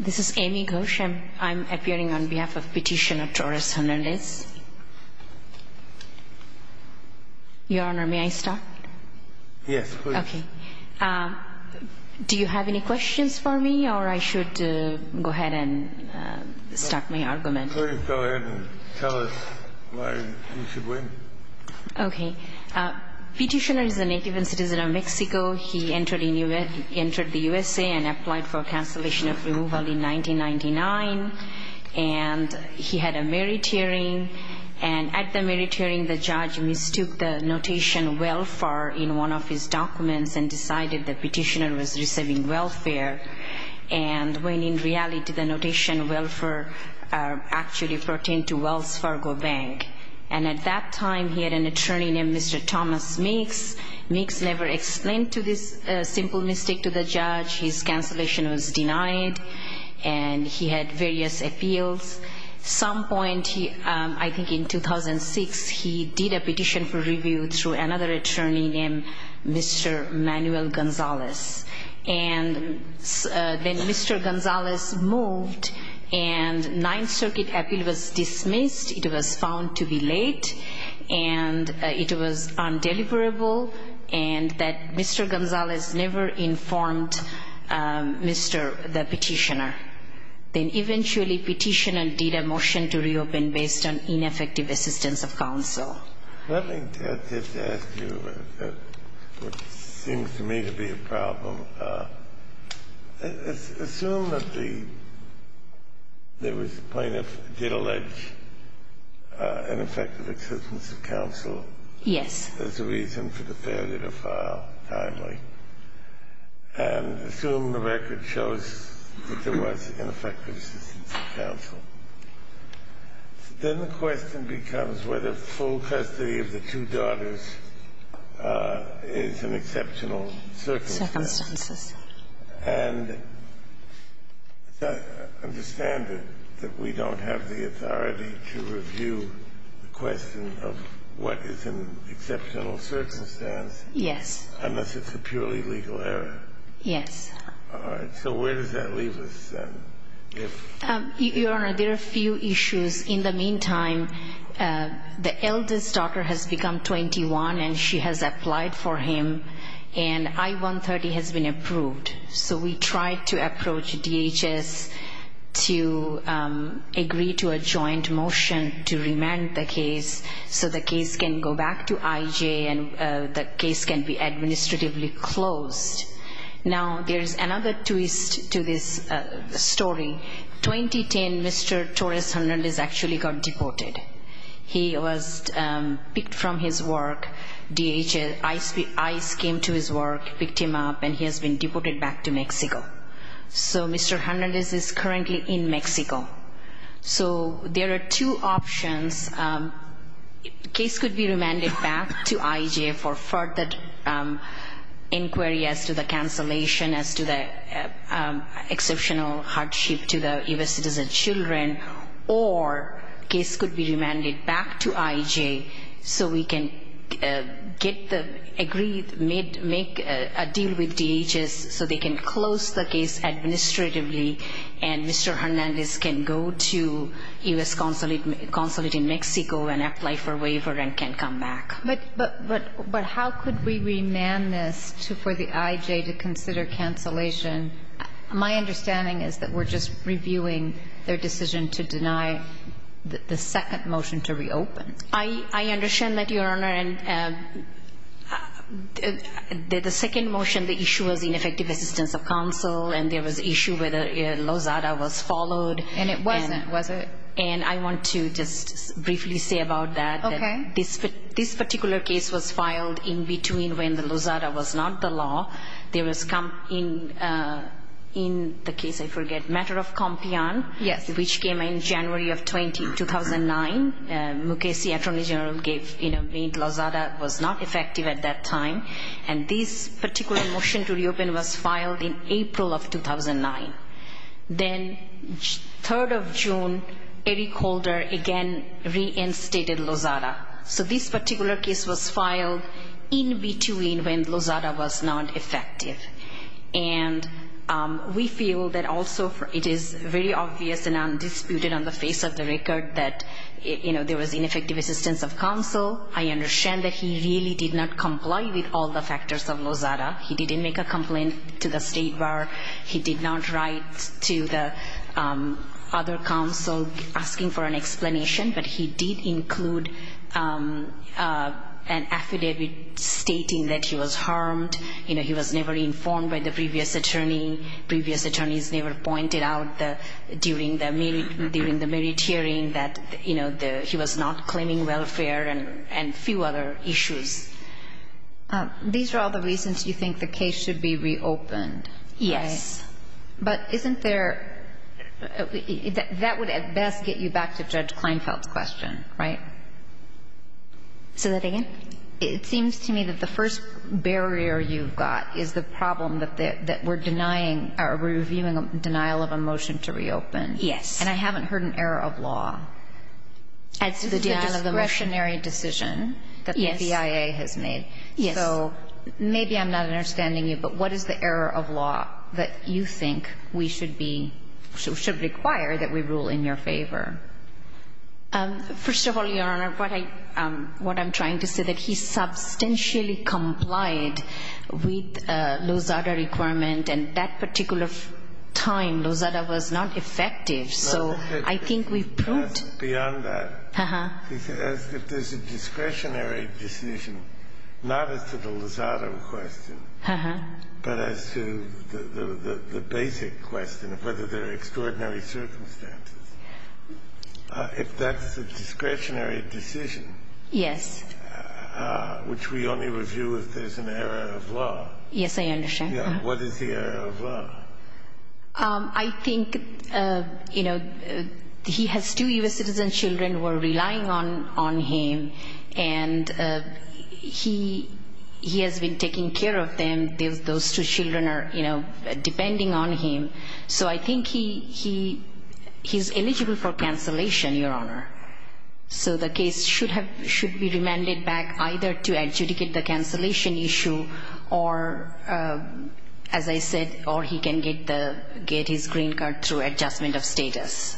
This is Amy Ghosh. I'm appearing on behalf of Petitioner Torres-Hernandez. Your Honor, may I start? Yes, please. Okay. Do you have any questions for me or I should go ahead and start my argument? Please go ahead and tell us why you should win. Okay. Petitioner is a native and citizen of Mexico. He entered the U.S.A. and applied for cancellation of removal in 1999. And he had a merit hearing. And at the merit hearing, the judge mistook the notation welfare in one of his documents and decided the petitioner was receiving welfare. And when in reality, the notation welfare actually pertained to Wells Fargo Bank. And at that time, he had an attorney named Mr. Thomas Mix. Mix never explained to this simple mistake to the judge. His cancellation was denied. And he had various appeals. Some point, I think in 2006, he did a petition for review through another attorney named Mr. Manuel Gonzalez. And then Mr. Gonzalez moved, and Ninth Circuit appeal was dismissed. It was found to be late, and it was undeliverable, and that Mr. Gonzalez never informed Mr. Petitioner. Then eventually, Petitioner did a motion to reopen based on ineffective assistance of counsel. Let me just ask you what seems to me to be a problem. Assume that the plaintiff did allege ineffective assistance of counsel. Yes. As a reason for the failure to file timely. And assume the record shows that there was ineffective assistance of counsel. Then the question becomes whether full custody of the two daughters is an exceptional circumstance. Circumstances. And understand that we don't have the authority to review the question of what is an exceptional circumstance. Yes. Unless it's a purely legal error. Yes. All right. So where does that leave us, then? Your Honor, there are a few issues. In the meantime, the eldest daughter has become 21, and she has applied for him. And I-130 has been approved. So we tried to approach DHS to agree to a joint motion to remand the case so the case can go back to IJ and the case can be administratively closed. Now, there is another twist to this story. 2010, Mr. Torres-Hernandez actually got deported. He was picked from his work. DHS ICE came to his work, picked him up, and he has been deported back to Mexico. So Mr. Hernandez is currently in Mexico. So there are two options. Case could be remanded back to IJ for further inquiry as to the cancellation, as to the exceptional hardship to the U.S. citizen children, or case could be remanded back to IJ so we can get the agreed, make a deal with DHS so they can close the case administratively and Mr. Hernandez can go to U.S. consulate in Mexico and apply for waiver and can come back. But how could we remand this for the IJ to consider cancellation? My understanding is that we're just reviewing their decision to deny the second motion to reopen. I understand that, Your Honor. Your Honor, the second motion, the issue was ineffective assistance of counsel, and there was issue whether Lozada was followed. And it wasn't, was it? And I want to just briefly say about that. Okay. This particular case was filed in between when the Lozada was not the law. There was, in the case I forget, matter of campeon, which came in January of 2009. Mukasey, attorney general, gave, you know, made Lozada was not effective at that time. And this particular motion to reopen was filed in April of 2009. Then 3rd of June, Eric Holder again reinstated Lozada. So this particular case was filed in between when Lozada was not effective. And we feel that also it is very obvious and undisputed on the face of the record that, you know, there was ineffective assistance of counsel. I understand that he really did not comply with all the factors of Lozada. He didn't make a complaint to the State Bar. He did not write to the other counsel asking for an explanation. But he did include an affidavit stating that he was harmed. You know, he was never informed by the previous attorney. Previous attorneys never pointed out during the merit hearing that, you know, he was not claiming welfare and a few other issues. These are all the reasons you think the case should be reopened. Yes. But isn't there – that would at best get you back to Judge Kleinfeld's question, right? Say that again? It seems to me that the first barrier you've got is the problem that we're denying or reviewing a denial of a motion to reopen. Yes. And I haven't heard an error of law as to the discretionary decision that the BIA has made. Yes. So maybe I'm not understanding you, but what is the error of law that you think we should be – should require that we rule in your favor? First of all, Your Honor, what I – what I'm trying to say, that he substantially complied with Lozada requirement, and that particular time Lozada was not effective. So I think we've proved – Beyond that. Uh-huh. If there's a discretionary decision, not as to the Lozada question, but as to the If that's a discretionary decision. Yes. Which we only review if there's an error of law. Yes, I understand. What is the error of law? I think, you know, he has two U.S. citizen children who are relying on him, and he has been taking care of them. Those two children are, you know, depending on him. So I think he – he's eligible for cancellation, Your Honor. So the case should have – should be remanded back either to adjudicate the cancellation issue or, as I said, or he can get the – get his green card through adjustment of status.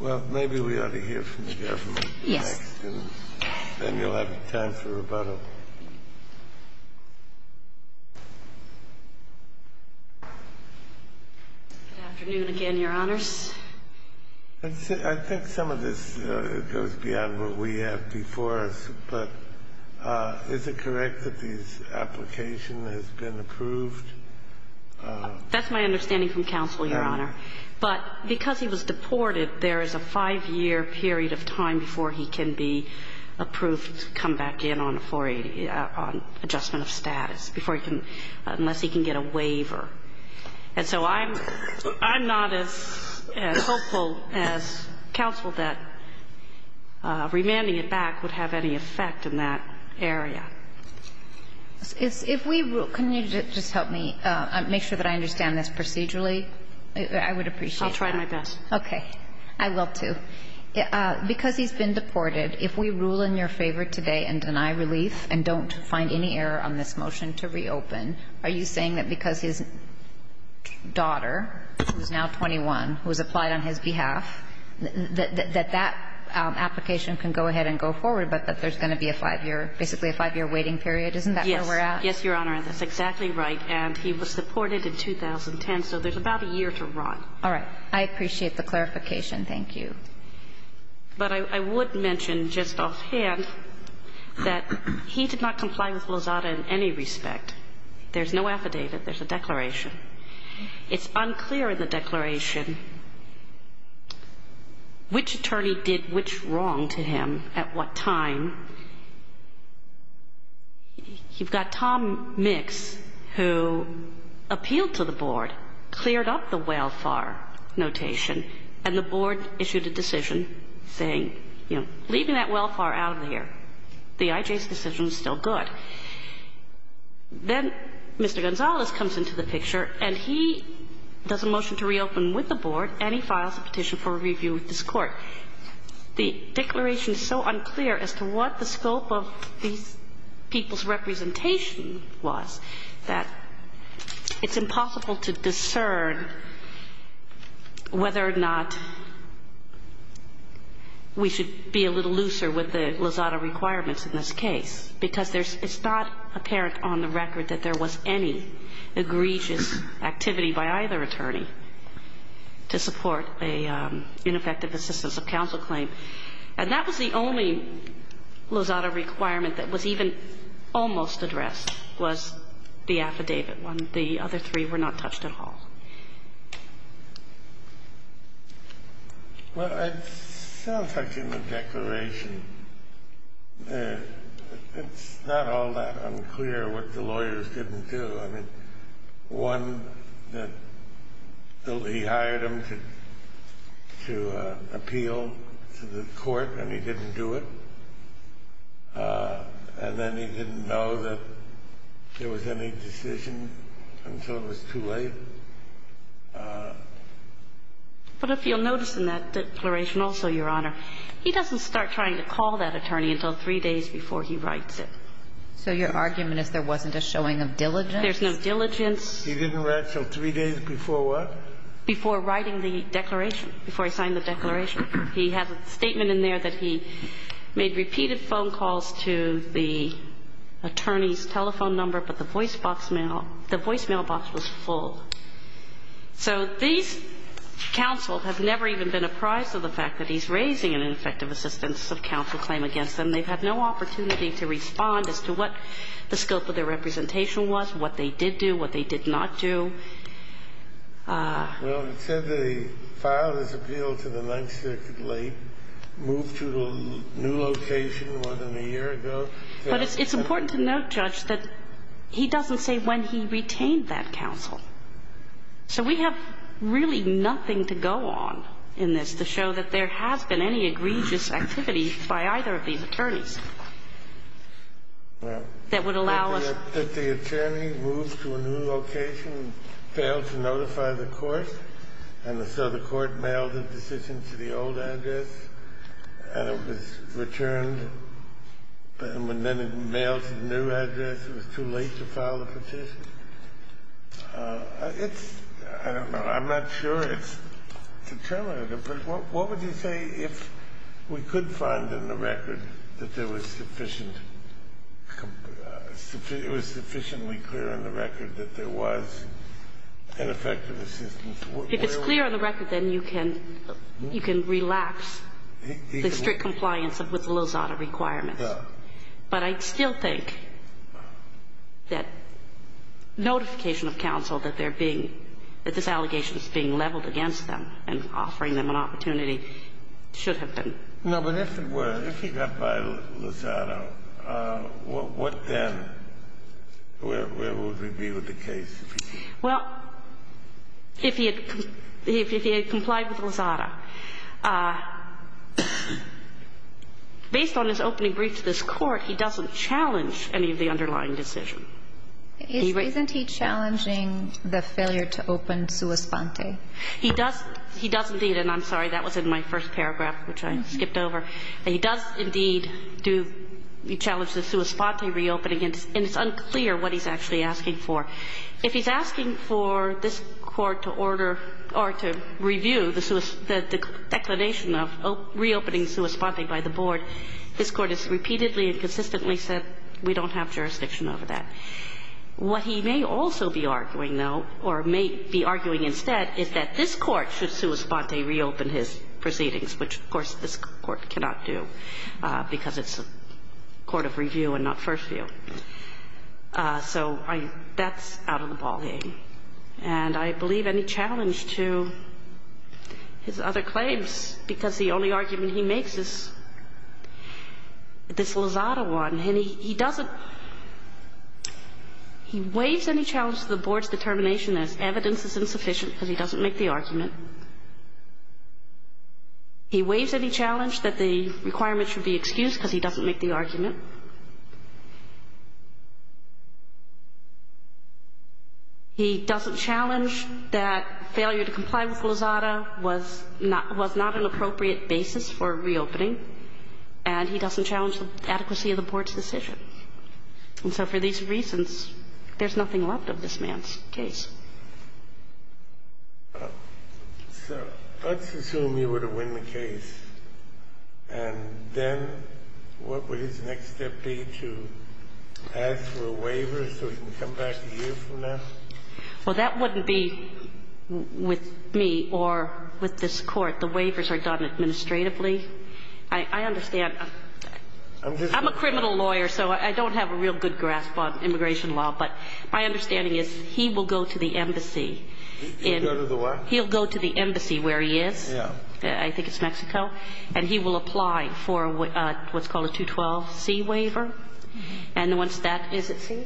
Well, maybe we ought to hear from the government. Yes. Then you'll have time for rebuttal. Good afternoon again, Your Honors. I think some of this goes beyond what we have before us, but is it correct that this application has been approved? That's my understanding from counsel, Your Honor. But because he was deported, there is a five-year period of time before he can be approved on 480, on adjustment of status, before he can – unless he can get a waiver. And so I'm not as hopeful as counsel that remanding it back would have any effect in that area. If we – can you just help me make sure that I understand this procedurally? I would appreciate that. I'll try my best. Okay. I will, too. Because he's been deported, if we rule in your favor today and deny relief and don't find any error on this motion to reopen, are you saying that because his daughter, who is now 21, was applied on his behalf, that that application can go ahead and go forward, but that there's going to be a five-year – basically a five-year waiting period? Isn't that where we're at? Yes. Yes, Your Honor. That's exactly right. And he was deported in 2010, so there's about a year to run. All right. I appreciate the clarification. Thank you. But I would mention just offhand that he did not comply with Lozada in any respect. There's no affidavit. There's a declaration. It's unclear in the declaration which attorney did which wrong to him at what time. You've got Tom Mix, who appealed to the board, cleared up the welfare notation, and the board issued a decision saying, you know, leaving that welfare out of here. The IJ's decision is still good. Then Mr. Gonzalez comes into the picture, and he does a motion to reopen with the board, and he files a petition for review with this Court. The declaration is so unclear as to what the scope of these people's representation was that it's impossible to discern whether or not we should be a little looser with the Lozada requirements in this case, because there's – it's not apparent on the record that there was any egregious activity by either attorney to support a ineffective assistance of counsel claim. And that was the only Lozada requirement that was even almost addressed was the affidavit one. The other three were not touched at all. Well, it sounds like in the declaration, it's not all that unclear what the lawyers didn't do. I mean, one, that he hired them to appeal to the court, and he didn't do it. And then he didn't know that there was any decision until it was too late. But if you'll notice in that declaration also, Your Honor, he doesn't start trying to call that attorney until three days before he writes it. So your argument is there wasn't a showing of diligence? There's no diligence. He didn't write until three days before what? Before writing the declaration, before he signed the declaration. He has a statement in there that he made repeated phone calls to the attorney's telephone number, but the voicemail box was full. So these counsel have never even been apprised of the fact that he's raising an ineffective assistance of counsel claim against them. And they've had no opportunity to respond as to what the scope of their representation was, what they did do, what they did not do. Well, it said that he filed his appeal to the 9th Circuit late, moved to a new location more than a year ago. But it's important to note, Judge, that he doesn't say when he retained that counsel. So we have really nothing to go on in this to show that there has been any egregious activity by either of these attorneys that would allow us to do that. Well, did the attorney move to a new location and fail to notify the court? And so the court mailed a decision to the old address, and it was returned, and then it mailed to the new address. It was too late to file a petition. It's – I don't know. I'm not sure it's determinative. But what would you say if we could find in the record that there was sufficient – it was sufficiently clear in the record that there was ineffective assistance? If it's clear on the record, then you can – you can relapse the strict compliance with Lozada requirements. But I still think that notification of counsel that they're being – that this allegation is being leveled against them and offering them an opportunity should have been. No, but if it were, if he got by Lozada, what then? Where would we be with the case? Well, if he had – if he had complied with Lozada. Based on his opening brief to this Court, he doesn't challenge any of the underlying decision. Isn't he challenging the failure to open sua sponte? He does. He does indeed. And I'm sorry, that was in my first paragraph, which I skipped over. He does indeed do – he challenged the sua sponte reopening, and it's unclear what he's actually asking for. If he's asking for this Court to order or to review the declination of reopening sua sponte by the Board, this Court has repeatedly and consistently said we don't have jurisdiction over that. What he may also be arguing, though, or may be arguing instead, is that this Court should sua sponte reopen his proceedings, which, of course, this Court cannot do because it's a court of review and not first view. So I – that's out of the ballgame. And I believe any challenge to his other claims, because the only argument he makes is this Lozada one. And he doesn't – he waives any challenge to the Board's determination as evidence is insufficient because he doesn't make the argument. He waives any challenge that the requirement should be excused because he doesn't make the argument. He doesn't challenge that failure to comply with Lozada was not an appropriate basis for reopening, and he doesn't challenge the adequacy of the Board's decision. And so for these reasons, there's nothing left of this man's case. So let's assume you were to win the case, and then what would his next step be to ask for a waiver so he can come back a year from now? Well, that wouldn't be with me or with this Court. The waivers are done administratively. I understand. I'm a criminal lawyer, so I don't have a real good grasp on immigration law. But my understanding is he will go to the embassy. He'll go to the what? He'll go to the embassy where he is. Yeah. I think it's Mexico. And he will apply for what's called a 212C waiver. And once that – is it C?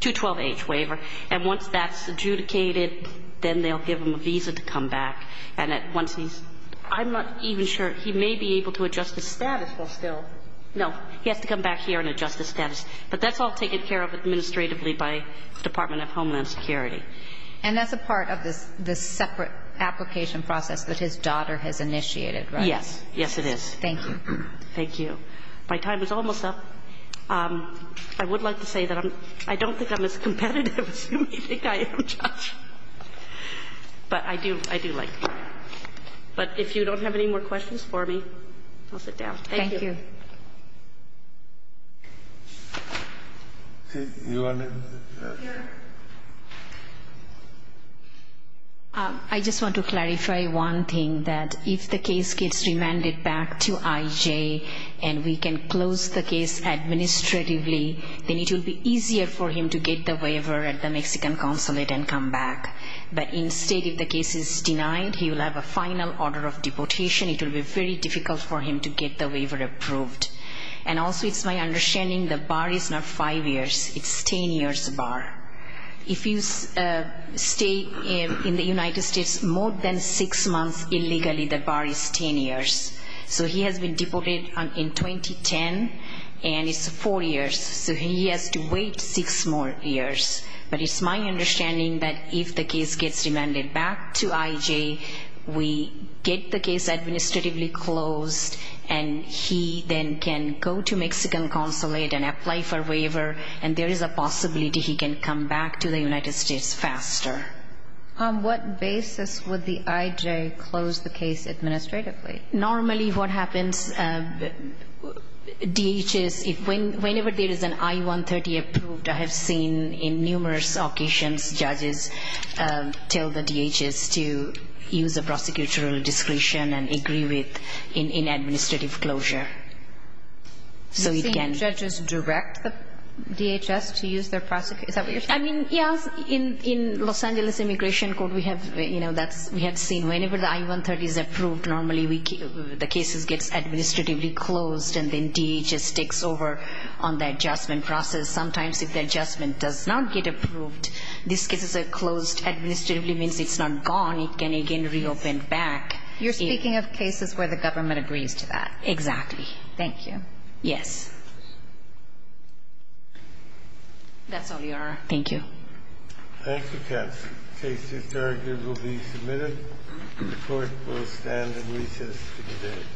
212H. 212H waiver. And once that's adjudicated, then they'll give him a visa to come back. And once he's – I'm not even sure. He may be able to adjust his status while still – no. He has to come back here and adjust his status. But that's all taken care of administratively by the Department of Homeland Security. And that's a part of this separate application process that his daughter has initiated, right? Yes. Yes, it is. Thank you. Thank you. My time is almost up. I would like to say that I don't think I'm as competitive as you may think I am, Judge. But I do – I do like you. But if you don't have any more questions for me, I'll sit down. Thank you. Thank you. I just want to clarify one thing, that if the case gets remanded back to IJ and we can close the case administratively, then it will be easier for him to get the waiver at the back. But instead, if the case is denied, he will have a final order of deportation. It will be very difficult for him to get the waiver approved. And also, it's my understanding the bar is not five years. It's 10 years bar. If you stay in the United States more than six months illegally, the bar is 10 years. So he has been deported in 2010, and it's four years. So he has to wait six more years. But it's my understanding that if the case gets remanded back to IJ, we get the case administratively closed, and he then can go to Mexican consulate and apply for waiver, and there is a possibility he can come back to the United States faster. On what basis would the IJ close the case administratively? Normally, what happens, DHS, whenever there is an I-130 approved, I have seen in numerous occasions judges tell the DHS to use a prosecutorial discretion and agree with in administrative closure. So it can be. You've seen judges direct the DHS to use their prosecution? Is that what you're saying? I mean, yes. In Los Angeles Immigration Court, we have seen whenever the I-130 is approved, normally the case gets administratively closed, and then DHS takes over on the adjustment process. Sometimes if the adjustment does not get approved, these cases are closed administratively. It means it's not gone. It can again reopen back. You're speaking of cases where the government agrees to that. Exactly. Thank you. Yes. That's all, Your Honor. Thank you. Thank you, counsel. Case 2-3 will be submitted. The court will stand at recess to debate.